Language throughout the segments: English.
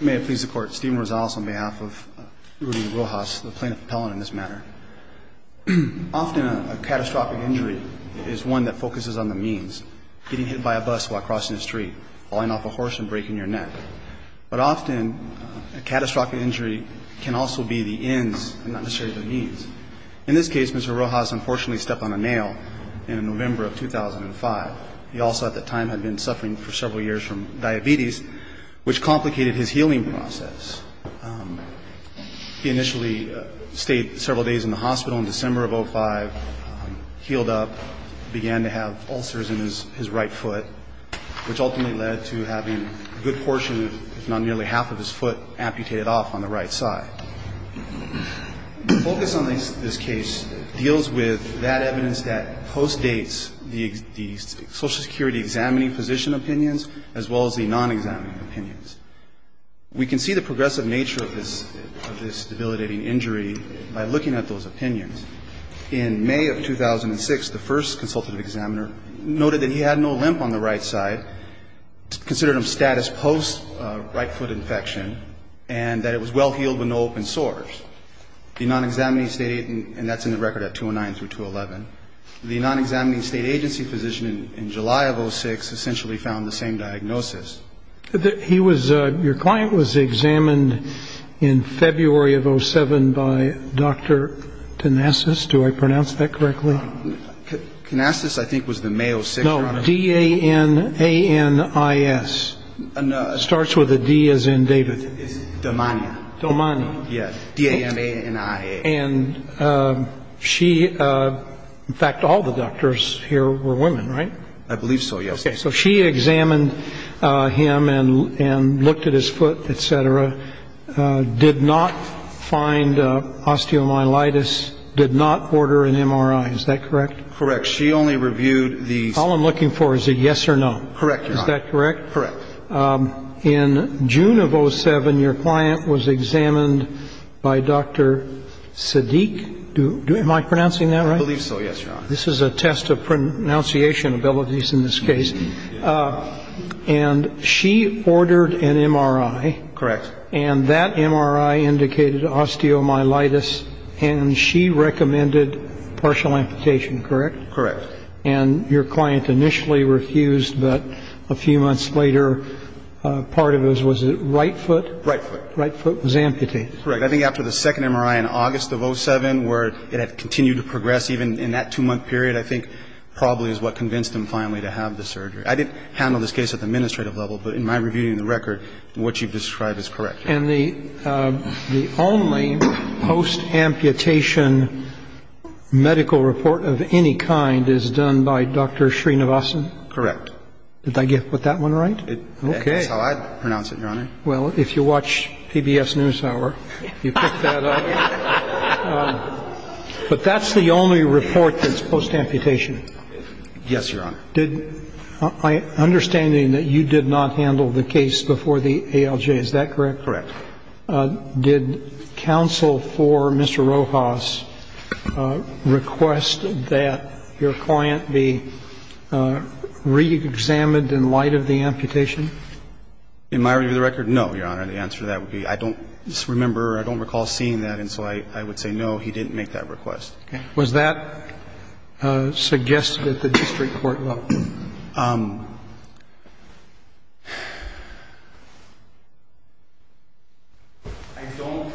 May it please the Court, Stephen Rosales on behalf of Rudy Rojas, the Plaintiff Appellant in this matter. Often a catastrophic injury is one that focuses on the means. Getting hit by a bus while crossing the street, falling off a horse and breaking your neck. But often a catastrophic injury can also be the ends and not necessarily the means. In this case, Mr. Rojas unfortunately stepped on a nail in November of 2005. He also at that time had been suffering for several years from diabetes, which complicated his healing process. He initially stayed several days in the hospital in December of 2005, healed up, began to have ulcers in his right foot, which ultimately led to having a good portion, if not nearly half of his foot, amputated off on the right side. The focus on this case deals with that evidence that postdates the existing evidence. Social Security examining physician opinions as well as the non-examining opinions. We can see the progressive nature of this debilitating injury by looking at those opinions. In May of 2006, the first consultative examiner noted that he had no limp on the right side, considered him status post right foot infection, and that it was well healed with no open sores. The non-examining state, and that's in the record at 209 through 211. The non-examining state agency physician in July of 06 essentially found the same diagnosis. He was, your client was examined in February of 07 by Dr. Canassis. Do I pronounce that correctly? Canassis I think was the May of 06. No, D-A-N-A-N-I-S. Starts with a D as in David. Damania. Damania. Yes, D-A-N-A-N-I-A. And she, in fact, all the doctors here were women, right? I believe so, yes. Okay. So she examined him and looked at his foot, et cetera, did not find osteomyelitis, did not order an MRI. Is that correct? Correct. She only reviewed the... All I'm looking for is a yes or no. Correct. Is that correct? Correct. In June of 07, your client was examined by Dr. Siddique. Am I pronouncing that right? I believe so, yes, Your Honor. This is a test of pronunciation abilities in this case. And she ordered an MRI. Correct. And that MRI indicated osteomyelitis, and she recommended partial amputation, correct? Correct. And your client initially refused, but a few months later, part of it was, was it right foot? Right foot. Right foot was amputated. Correct. I think after the second MRI in August of 07, where it had continued to progress even in that two-month period, I think probably is what convinced them finally to have the surgery. I didn't handle this case at the administrative level, but in my review of the record, what you've described is correct. And the only post-amputation medical report of any kind is done by Dr. Srinivasan? Correct. Did I get that one right? Okay. That's how I pronounce it, Your Honor. Well, if you watch PBS NewsHour, you pick that up. But that's the only report that's post-amputation? Yes, Your Honor. My understanding that you did not handle the case before the ALJ, is that correct? Correct. Did counsel for Mr. Rojas request that your client be reexamined in light of the amputation? In my review of the record, no, Your Honor. The answer to that would be I don't remember or I don't recall seeing that, and so I would say no, he didn't make that request. Okay. Was that suggested at the district court level? I don't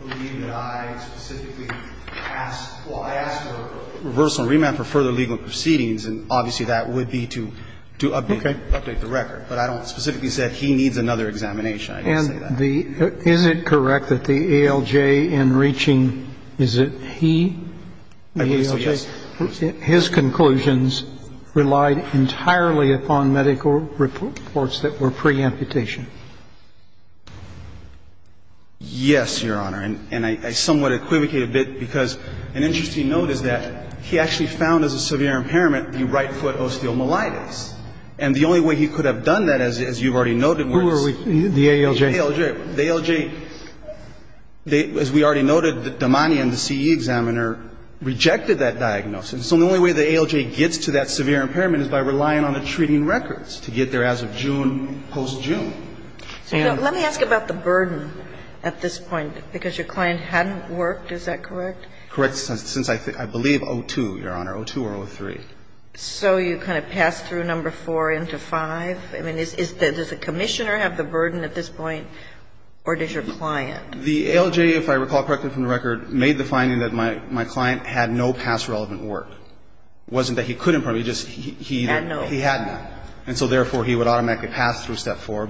believe that I specifically asked for a reversal or remand for further legal proceedings, and obviously that would be to update the record. But I don't specifically say he needs another examination. I didn't say that. And is it correct that the ALJ in reaching, is it he, the ALJ? I believe so, yes. Your Honor, his conclusions relied entirely upon medical reports that were pre-amputation. Yes, Your Honor. And I somewhat equivocate a bit because an interesting note is that he actually found as a severe impairment the right foot osteomyelitis. And the only way he could have done that, as you've already noted, was the ALJ. The ALJ, as we already noted, Damani and the CE examiner rejected that diagnosis. And so the only way the ALJ gets to that severe impairment is by relying on the treating records to get there as of June, post-June. Let me ask about the burden at this point, because your client hadn't worked, is that correct? Correct, since I believe 02, Your Honor, 02 or 03. So you kind of pass through number 4 into 5? I mean, does the commissioner have the burden at this point, or does your client? The ALJ, if I recall correctly from the record, made the finding that my client had no past relevant work. It wasn't that he couldn't probably, just he had none. And so therefore, he would automatically pass through step 4,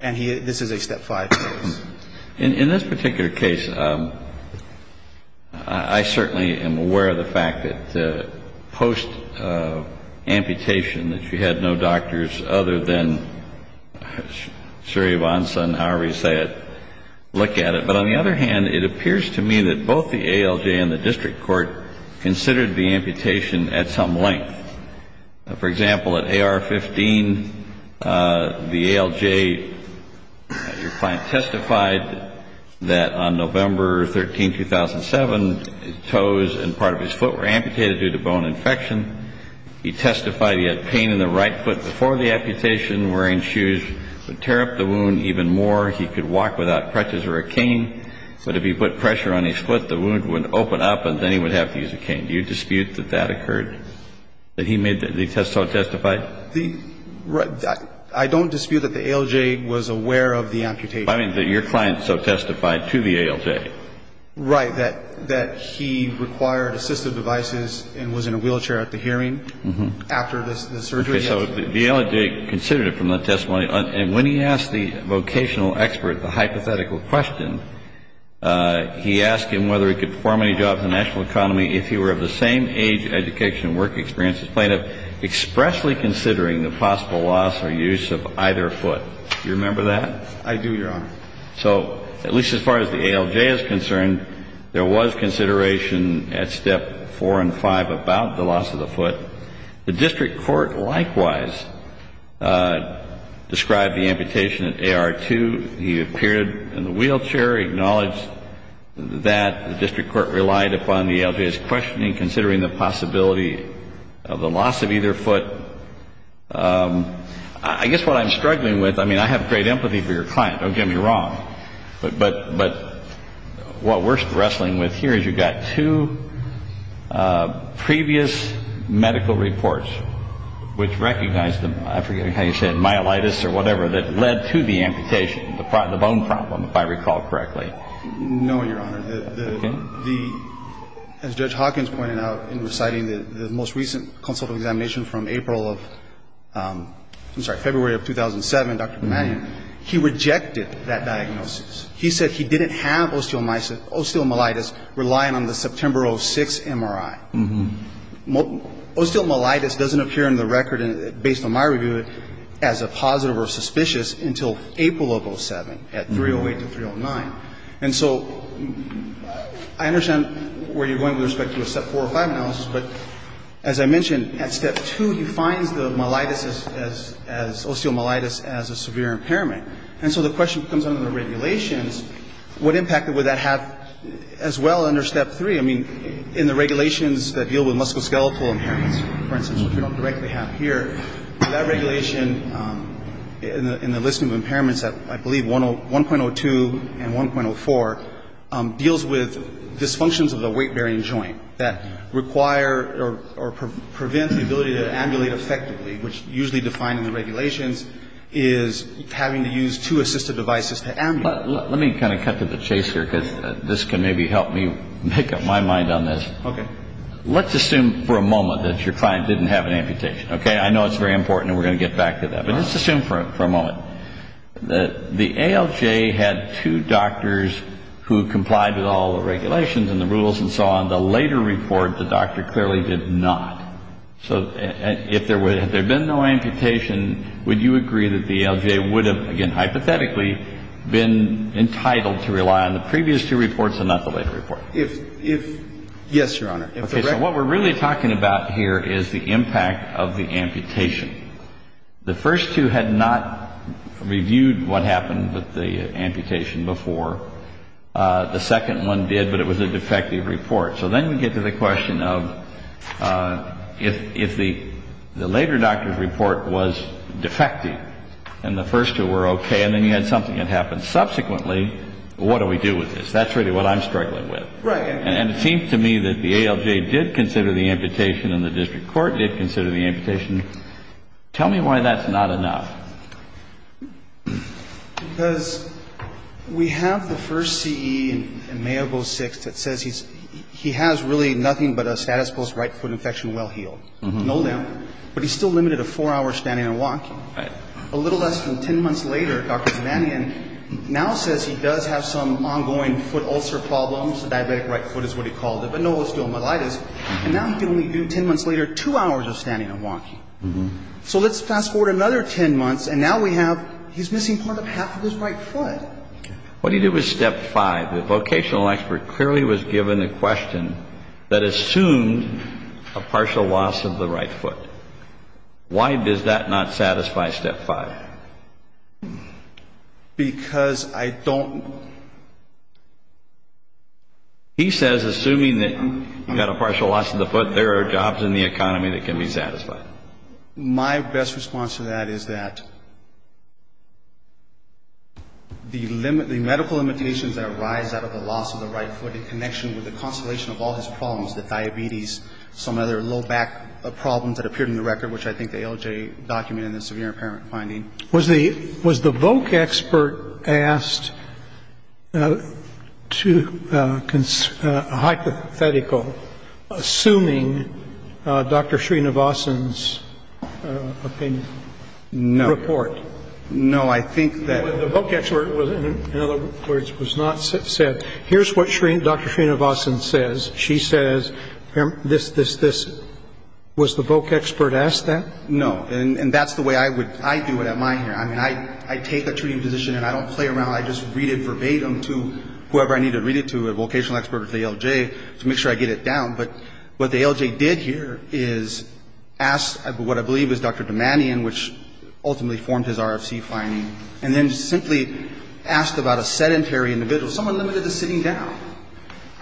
and this is a step 5 case. In this particular case, I certainly am aware of the fact that post-amputation, that you had no doctors other than Suryavansan, however you say it, look at it. But on the other hand, it appears to me that both the ALJ and the district court considered the amputation at some length. For example, at AR-15, the ALJ, your client testified that on November 13, 2007, toes and part of his foot were amputated due to bone infection. He testified he had pain in the right foot before the amputation. Wearing shoes would tear up the wound even more. He could walk without crutches or a cane. But if he put pressure on his foot, the wound would open up, and then he would have to use a cane. Do you dispute that that occurred, that he made the test so it testified? I don't dispute that the ALJ was aware of the amputation. I mean that your client so testified to the ALJ. Right, that he required assistive devices and was in a wheelchair at the hearing after the surgery. So the ALJ considered it from the testimony. And when he asked the vocational expert the hypothetical question, he asked him whether he could perform any job in the national economy if he were of the same age, education, and work experience as plaintiff, expressly considering the possible loss or use of either foot. Do you remember that? I do, Your Honor. So at least as far as the ALJ is concerned, there was consideration at Step 4 and 5 about the loss of the foot. The district court likewise described the amputation at AR-2. He appeared in the wheelchair, acknowledged that. The district court relied upon the ALJ's questioning, considering the possibility of the loss of either foot. I guess what I'm struggling with, I mean, I have great empathy for your client. Don't get me wrong. But what we're wrestling with here is you've got two previous medical reports which recognize the, I forget how you say it, osteomyelitis or whatever that led to the amputation, the bone problem, if I recall correctly. No, Your Honor. Okay. The, as Judge Hawkins pointed out in reciting the most recent consultative examination from April of, I'm sorry, February of 2007, Dr. McMahon, he rejected that diagnosis. He said he didn't have osteomyelitis relying on the September 06 MRI. Osteomyelitis doesn't appear in the record, based on my review, as a positive or suspicious until April of 07, at 308 to 309. And so I understand where you're going with respect to a Step 4 or 5 analysis, but as I mentioned, at Step 2, he finds the myelitis as, osteomyelitis as a severe impairment. And so the question becomes under the regulations, what impact would that have as well under Step 3? I mean, in the regulations that deal with musculoskeletal impairments, for instance, which we don't directly have here, that regulation in the list of impairments, I believe 1.02 and 1.04, deals with dysfunctions of the weight-bearing joint that require or prevent the ability to ambulate effectively, which usually defined in the regulations is having to use two assistive devices to ambulate. Let me kind of cut to the chase here, because this can maybe help me make up my mind on this. Okay. Let's assume for a moment that your client didn't have an amputation, okay? I know it's very important, and we're going to get back to that. But let's assume for a moment that the ALJ had two doctors who complied with all the regulations and the rules and so on. The later report, the doctor clearly did not. So if there had been no amputation, would you agree that the ALJ would have, again, hypothetically, been entitled to rely on the previous two reports and not the later report? If yes, Your Honor. Okay. So what we're really talking about here is the impact of the amputation. The first two had not reviewed what happened with the amputation before. The second one did, but it was a defective report. So then we get to the question of if the later doctor's report was defective and the first two were okay and then you had something that happened subsequently, what do we do with this? That's really what I'm struggling with. Right. And it seems to me that the ALJ did consider the amputation and the district court did consider the amputation. Tell me why that's not enough. Because we have the first CE in May of 2006 that says he has really nothing but a status post right foot infection well healed. No limb. But he's still limited to four hours standing and walking. Right. A little less than 10 months later, Dr. Zemanian now says he does have some ongoing foot ulcer problems, diabetic right foot is what he called it, but no osteomyelitis. And now he can only do, 10 months later, two hours of standing and walking. So let's fast forward another 10 months and now we have, he's missing part of half of his right foot. What do you do with step five? The vocational expert clearly was given a question that assumed a partial loss of the right foot. Why does that not satisfy step five? Because I don't know. He says assuming that you've got a partial loss of the foot, there are jobs in the economy that can be satisfied. My best response to that is that the medical limitations that arise out of the loss of the right foot in connection with the constellation of all his problems, the diabetes, some other low back problems that appeared in the record, which I think the ALJ documented in the severe impairment finding. Was the voc expert asked to, hypothetical, assuming Dr. Srinivasan's opinion? No. Report. No, I think that. The voc expert was not said, here's what Dr. Srinivasan says. She says, this, this, this. Was the voc expert asked that? No, and that's the way I would, I do it at my hearing. I mean, I take a treating position and I don't play around, I just read it verbatim to whoever I need to read it to, a vocational expert or to the ALJ to make sure I get it down. But what the ALJ did here is ask what I believe is Dr. Damanian, which ultimately formed his RFC finding, and then simply asked about a sedentary individual, someone limited to sitting down.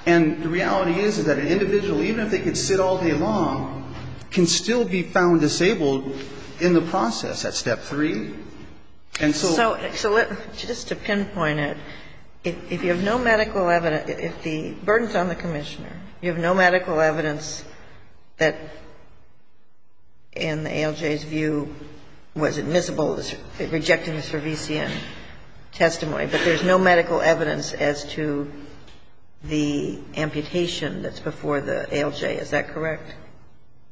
And the reality is that an individual, even if they could sit all day long, can still be found disabled in the process at step three. And so. So let, just to pinpoint it, if you have no medical evidence, if the burden's on the Commissioner, you have no medical evidence that, in the ALJ's view, was admissible, rejecting the Cervisian testimony, but there's no medical evidence as to the amputation that's before the ALJ, is that correct?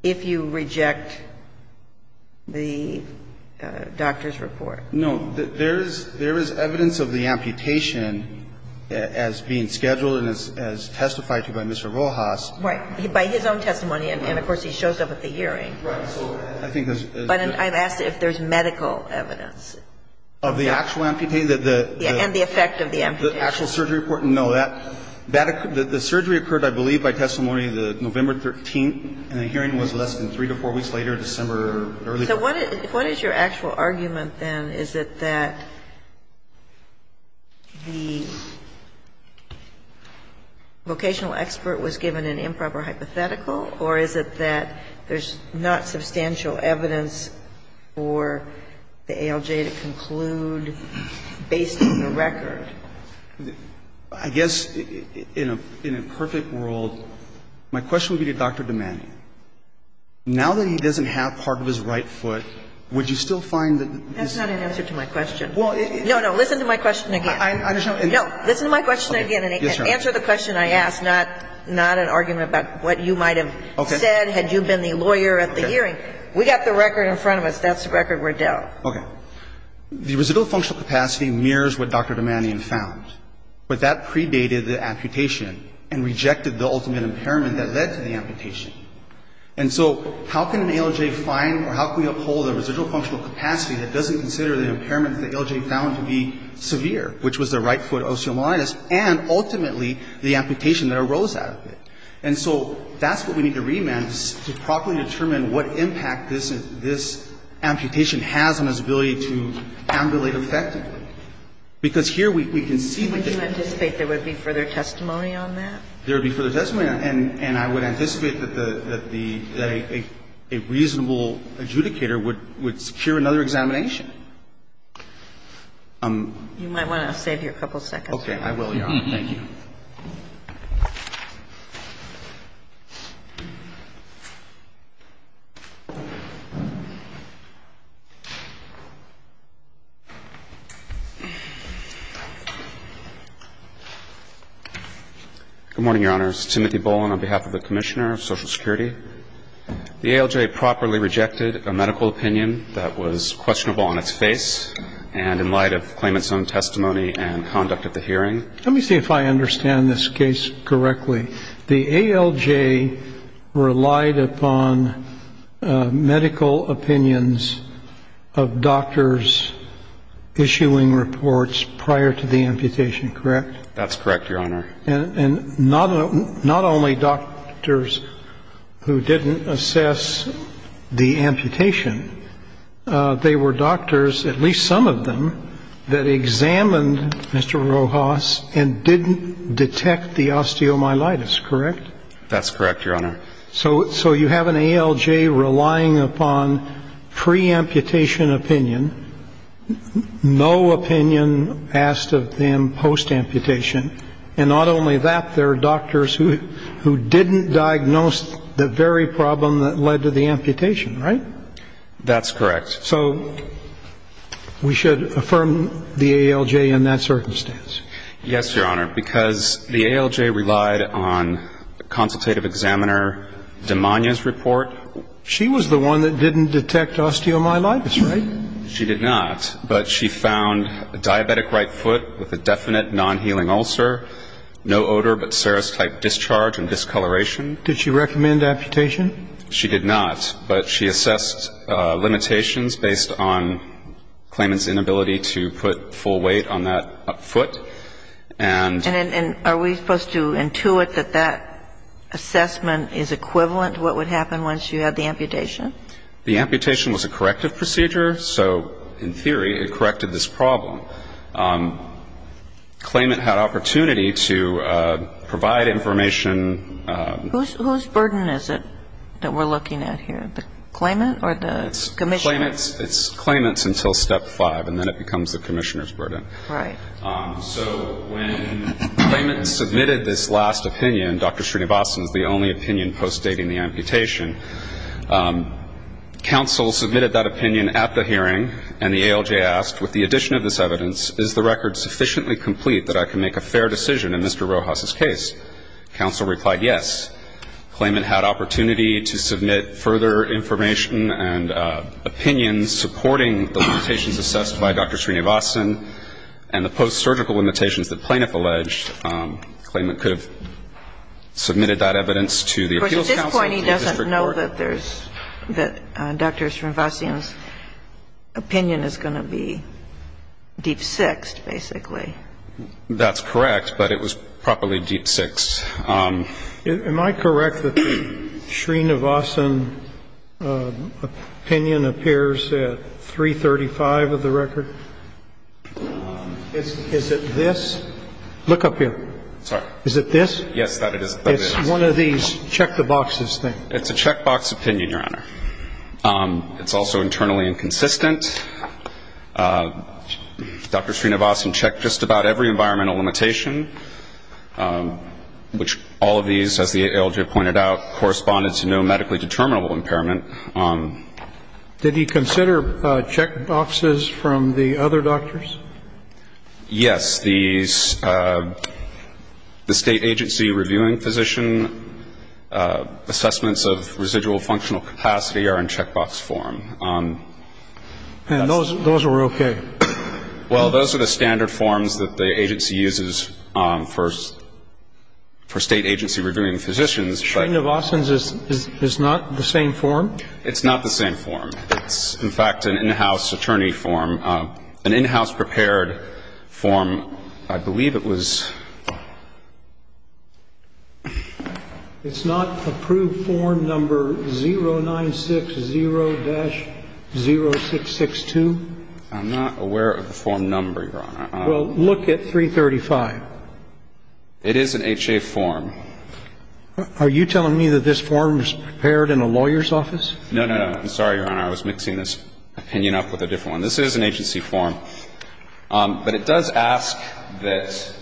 If you reject the doctor's report. No. There is, there is evidence of the amputation as being scheduled and as testified to by Mr. Rojas. Right. By his own testimony, and of course he shows up at the hearing. Right. But I've asked if there's medical evidence. Of the actual amputation? Yeah, and the effect of the amputation. The actual surgery report? No. The surgery occurred, I believe, by testimony November 13th, and the hearing was less than three to four weeks later, December early part. So what is your actual argument then? Is it that the vocational expert was given an improper hypothetical, or is it that there's not substantial evidence for the ALJ to conclude based on the record? I guess, in a perfect world, my question would be to Dr. Domanio. Now that he doesn't have part of his right foot, would you still find that this That's not an answer to my question. No, no. Listen to my question again. No. Listen to my question again and answer the question I asked, not an argument about what you might have said had you been the lawyer at the hearing. Okay. We got the record in front of us. That's the record we're dealt. Okay. The residual functional capacity mirrors what Dr. Domanio found, but that predated the amputation and rejected the ultimate impairment that led to the amputation. And so how can an ALJ find or how can we uphold a residual functional capacity that doesn't consider the impairment that ALJ found to be severe, which was the right foot osseomalitis, and ultimately the amputation that arose out of it? And so that's what we need to read, ma'am, is to properly determine what impact this amputation has on its ability to ambulate effectively. Because here we can see what the Would you anticipate there would be further testimony on that? There would be further testimony on that. And I would anticipate that a reasonable adjudicator would secure another examination. You might want to save your couple seconds. I will, Your Honor. Thank you. Good morning, Your Honors. Timothy Boland on behalf of the Commissioner of Social Security. The ALJ properly rejected a medical opinion that was questionable on its face, and in light of claimant's own testimony and conduct at the hearing. and in light of claimant's own testimony and conduct at the hearing. I understand this case correctly. The ALJ relied upon medical opinions of doctors issuing reports prior to the amputation, correct? That's correct, Your Honor. And not only doctors who didn't assess the amputation, they were doctors, at least some of them, that examined Mr. Rojas and didn't detect the osteomyelitis, correct? That's correct, Your Honor. So you have an ALJ relying upon pre-amputation opinion, no opinion asked of them post-amputation. And not only that, there are doctors who didn't diagnose the very problem that led to the amputation, right? That's correct. So we should affirm the ALJ in that circumstance. Yes, Your Honor, because the ALJ relied on consultative examiner Dimania's report. She was the one that didn't detect osteomyelitis, right? She did not, but she found diabetic right foot with a definite non-healing ulcer, no odor but serostype discharge and discoloration. Did she recommend amputation? She did not, but she assessed limitations based on claimant's inability to put full weight on that foot. And are we supposed to intuit that that assessment is equivalent to what would happen once you had the amputation? The amputation was a corrective procedure, so in theory it corrected this problem. Claimant had opportunity to provide information. Whose burden is it? That we're looking at here, the claimant or the commissioner? It's claimant's until step five, and then it becomes the commissioner's burden. Right. So when claimant submitted this last opinion, Dr. Srinivasan's the only opinion postdating the amputation, counsel submitted that opinion at the hearing, and the ALJ asked, with the addition of this evidence, is the record sufficiently complete that I can make a fair decision in Mr. Rojas's case? Counsel replied yes. Claimant had opportunity to submit further information and opinions supporting the limitations assessed by Dr. Srinivasan and the post-surgical limitations the plaintiff alleged. Claimant could have submitted that evidence to the appeals counsel. Of course, at this point he doesn't know that there's Dr. Srinivasan's opinion is going to be deep-sixed, basically. That's correct, but it was properly deep-sixed. Am I correct that Srinivasan's opinion appears at 335 of the record? Is it this? Look up here. Sorry. Is it this? Yes, that it is. It's one of these check-the-boxes thing. It's a check-box opinion, Your Honor. It's also internally inconsistent. Dr. Srinivasan checked just about every environmental limitation, which all of these, as the ALJ pointed out, corresponded to no medically determinable impairment. Did he consider check-boxes from the other doctors? Yes. The state agency reviewing physician assessments of residual functional capacity are in check-box form. And those were okay? Well, those are the standard forms that the agency uses for state agency reviewing physicians. Srinivasan's is not the same form? It's not the same form. It's, in fact, an in-house attorney form, an in-house prepared form. I believe it was. It's not approved form number 0960-0662? I'm not aware of the form number, Your Honor. Well, look at 335. It is an HA form. Are you telling me that this form was prepared in a lawyer's office? No, no, no. I'm sorry, Your Honor. I was mixing this opinion up with a different one. This is an agency form. But it does ask that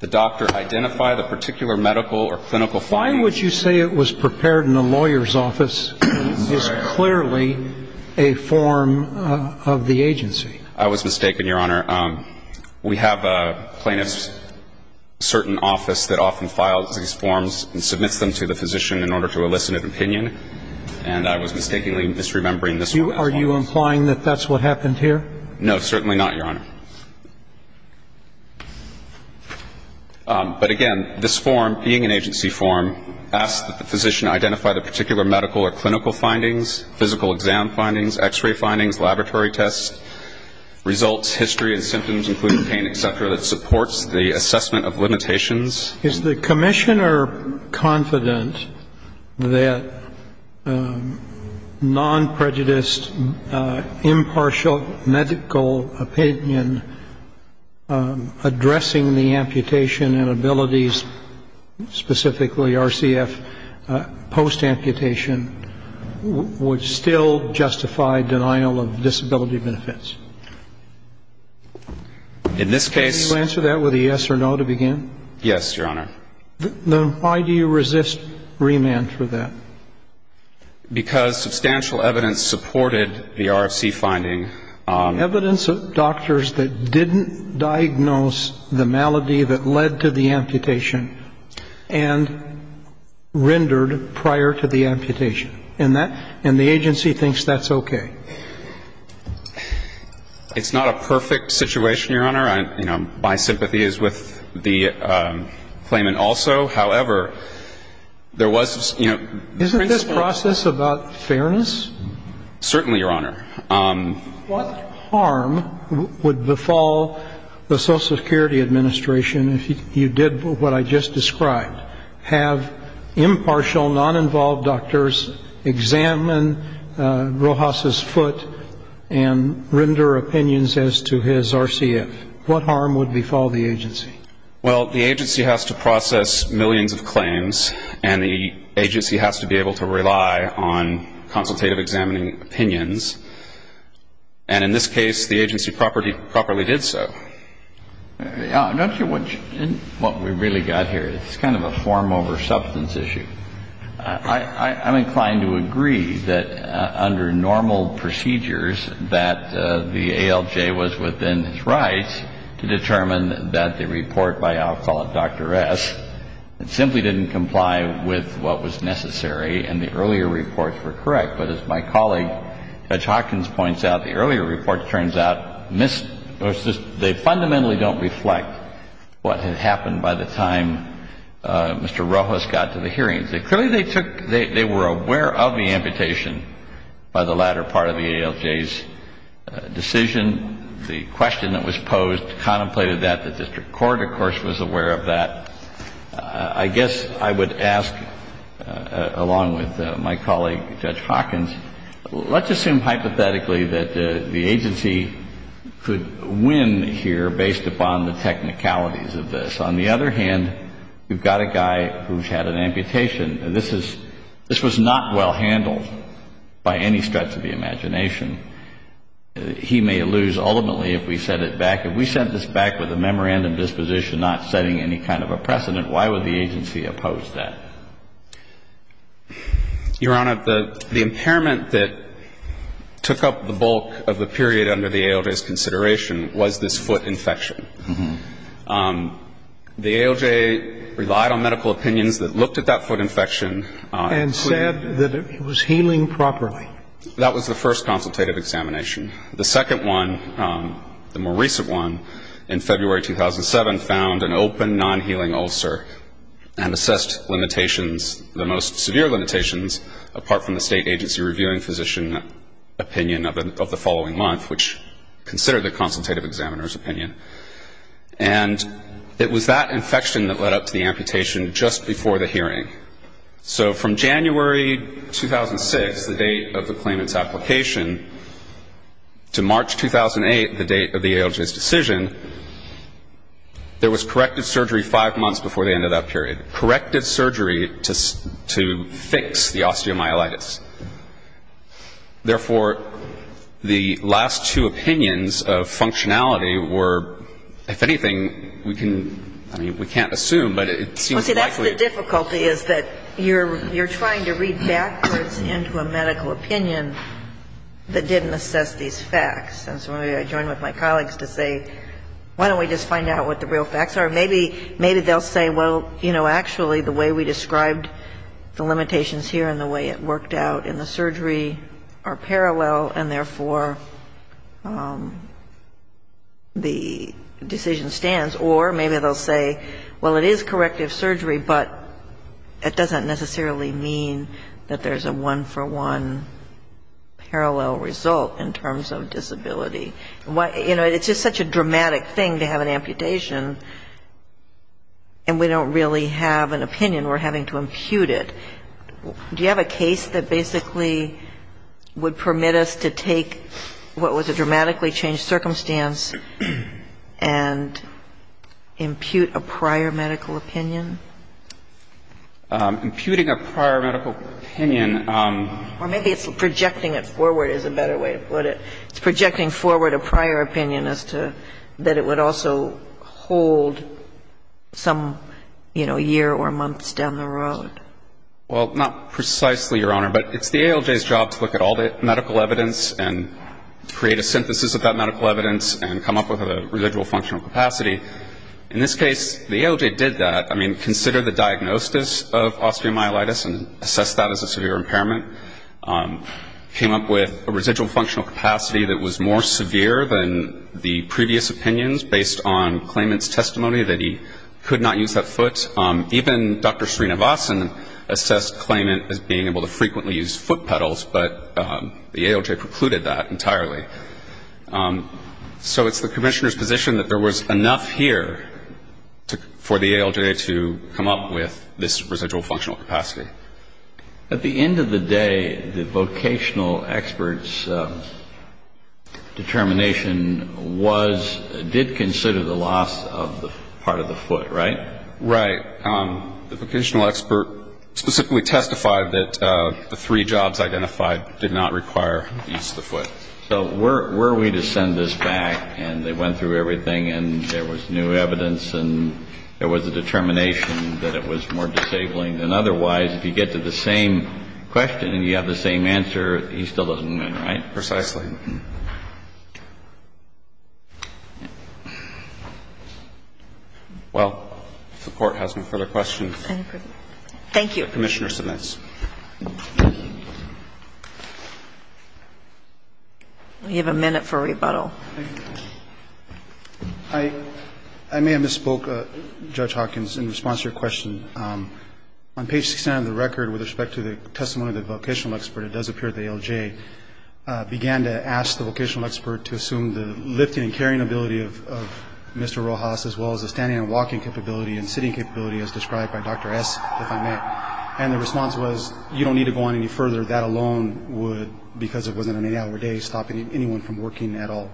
the doctor identify the particular medical or clinical findings. Why would you say it was prepared in a lawyer's office? It's clearly a form of the agency. I was mistaken, Your Honor. We have a plaintiff's certain office that often files these forms and submits them to the physician in order to elicit an opinion. And I was mistakenly misremembering this one. Are you implying that that's what happened here? No, certainly not, Your Honor. But, again, this form, being an agency form, asks that the physician identify the particular medical or clinical findings, physical exam findings, X-ray findings, laboratory tests, results, history, and symptoms, including pain, et cetera, that supports the assessment of limitations. Is the commissioner confident that non-prejudiced, impartial medical opinion addressing the amputation and abilities, specifically RCF post-amputation, would still justify denial of disability benefits? In this case — Can you answer that with a yes or no to begin? Yes, Your Honor. Then why do you resist remand for that? Because substantial evidence supported the RFC finding. Evidence of doctors that didn't diagnose the malady that led to the amputation and rendered prior to the amputation. And the agency thinks that's okay. It's not a perfect situation, Your Honor. My sympathy is with the claimant also. However, there was — Isn't this process about fairness? Certainly, Your Honor. What harm would befall the Social Security Administration if you did what I just described, have impartial, non-involved doctors examine Rojas' foot and render opinions as to his RCF? What harm would befall the agency? Well, the agency has to process millions of claims, and the agency has to be able to rely on consultative examining opinions. And in this case, the agency properly did so. Don't you — in what we really got here, it's kind of a form over substance issue. I'm inclined to agree that under normal procedures that the ALJ was within its rights to determine that the report by, I'll call it Dr. S. simply didn't comply with what was necessary, and the earlier reports were correct. But as my colleague, Judge Hawkins, points out, the earlier report turns out they fundamentally don't reflect what had happened by the time Mr. Rojas got to the hearings. Clearly, they took — they were aware of the amputation by the latter part of the ALJ's decision. The question that was posed contemplated that. The district court, of course, was aware of that. I guess I would ask, along with my colleague, Judge Hawkins, let's assume hypothetically that the agency could win here based upon the technicalities of this. On the other hand, you've got a guy who's had an amputation. This is — this was not well handled by any stretch of the imagination. He may lose ultimately if we set it back. If we set this back with a memorandum disposition not setting any kind of a precedent, why would the agency oppose that? Your Honor, the impairment that took up the bulk of the period under the ALJ's consideration was this foot infection. The ALJ relied on medical opinions that looked at that foot infection. And said that it was healing properly. That was the first consultative examination. The second one, the more recent one, in February 2007, found an open, non-healing ulcer and assessed limitations, the most severe limitations, apart from the state agency reviewing physician opinion of the following month, which considered the consultative examiner's opinion. And it was that infection that led up to the amputation just before the hearing. So from January 2006, the date of the claimant's application, to March 2008, the date of the ALJ's decision, there was corrective surgery five months before the end of that period. Corrective surgery to fix the osteomyelitis. Therefore, the last two opinions of functionality were, if anything, we can — I mean, we can't assume, but it seems likely. The difficulty is that you're trying to read backwards into a medical opinion that didn't assess these facts. And so maybe I join with my colleagues to say, why don't we just find out what the real facts are? Maybe they'll say, well, you know, actually the way we described the limitations here and the way it worked out in the surgery are parallel, and therefore the decision stands. Or maybe they'll say, well, it is corrective surgery, but it doesn't necessarily mean that there's a one-for-one parallel result in terms of disability. You know, it's just such a dramatic thing to have an amputation, and we don't really have an opinion. We're having to impute it. Do you have a case that basically would permit us to take what was a dramatically changed circumstance and impute a prior medical opinion? Imputing a prior medical opinion. Or maybe it's projecting it forward is a better way to put it. It's projecting forward a prior opinion as to that it would also hold some, you know, year or months down the road. Well, not precisely, Your Honor, but it's the ALJ's job to look at all the medical evidence and create a synthesis of that medical evidence and come up with a residual functional capacity. In this case, the ALJ did that. I mean, considered the diagnosis of osteomyelitis and assessed that as a severe impairment, came up with a residual functional capacity that was more severe than the previous opinions based on Klayment's testimony that he could not use that foot. Even Dr. Sreenivasan assessed Klayment as being able to frequently use foot pedals, but the ALJ precluded that entirely. So it's the Commissioner's position that there was enough here for the ALJ to come up with this residual functional capacity. At the end of the day, the vocational expert's determination was, did consider the loss of the part of the foot, right? Right. The vocational expert specifically testified that the three jobs identified did not require the use of the foot. So were we to send this back and they went through everything and there was new evidence and there was a determination that it was more disabling than otherwise, if you get to the same question and you have the same answer, he still doesn't win, right? Precisely. Well, if the Court has no further questions. Thank you. Commissioner Smith. We have a minute for rebuttal. I may have misspoke, Judge Hawkins, in response to your question. On page 69 of the record with respect to the testimony of the vocational expert, it does appear the ALJ began to ask the vocational expert to assume the lifting and carrying ability of Mr. Rojas as well as the standing and walking capability and sitting capability as described by Dr. S, if I may. And the response was, you don't need to go on any further. That alone would, because it wasn't an eight-hour day, stop anyone from working at all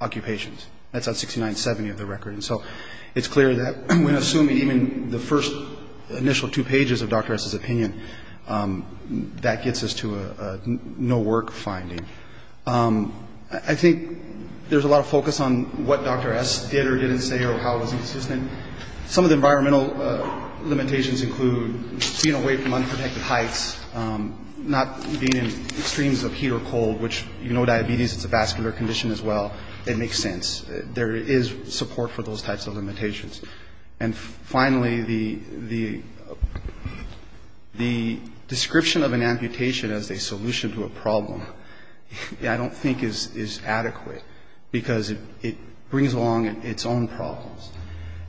occupations. That's on 6970 of the record. And so it's clear that when assuming even the first initial two pages of Dr. S's opinion, that gets us to a no-work finding. I think there's a lot of focus on what Dr. S did or didn't say or how it was consistent. Some of the environmental limitations include being away from unprotected heights, not being in extremes of heat or cold, which, you know diabetes, it's a vascular condition as well. It makes sense. There is support for those types of limitations. And finally, the description of an amputation as a solution to a problem I don't think is adequate, because it brings along its own problems.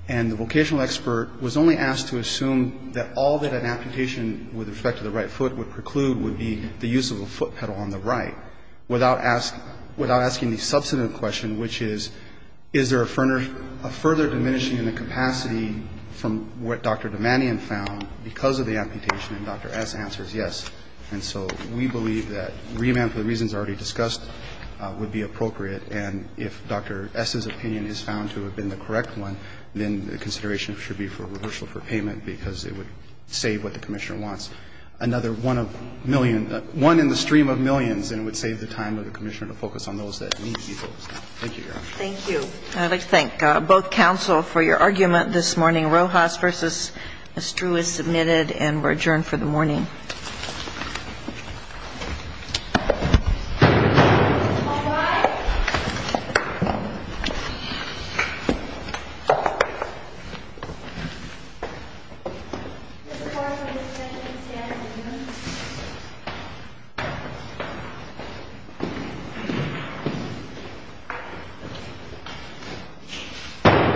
And the vocational expert was only asked to assume that all that an amputation with respect to the right foot would preclude would be the use of a foot pedal on the Is there a further diminishing in the capacity from what Dr. Damanian found because of the amputation? And Dr. S answers yes. And so we believe that reamount for the reasons already discussed would be appropriate. And if Dr. S's opinion is found to have been the correct one, then the consideration should be for reversal for payment, because it would save what the Commissioner wants, another one of million one in the stream of millions, and it would save the Commissioner to focus on those that need to be focused on. Thank you, Your Honor. Thank you. I'd like to thank both counsel for your argument this morning. Rojas v. Mr. Drew is submitted and we're adjourned for the morning.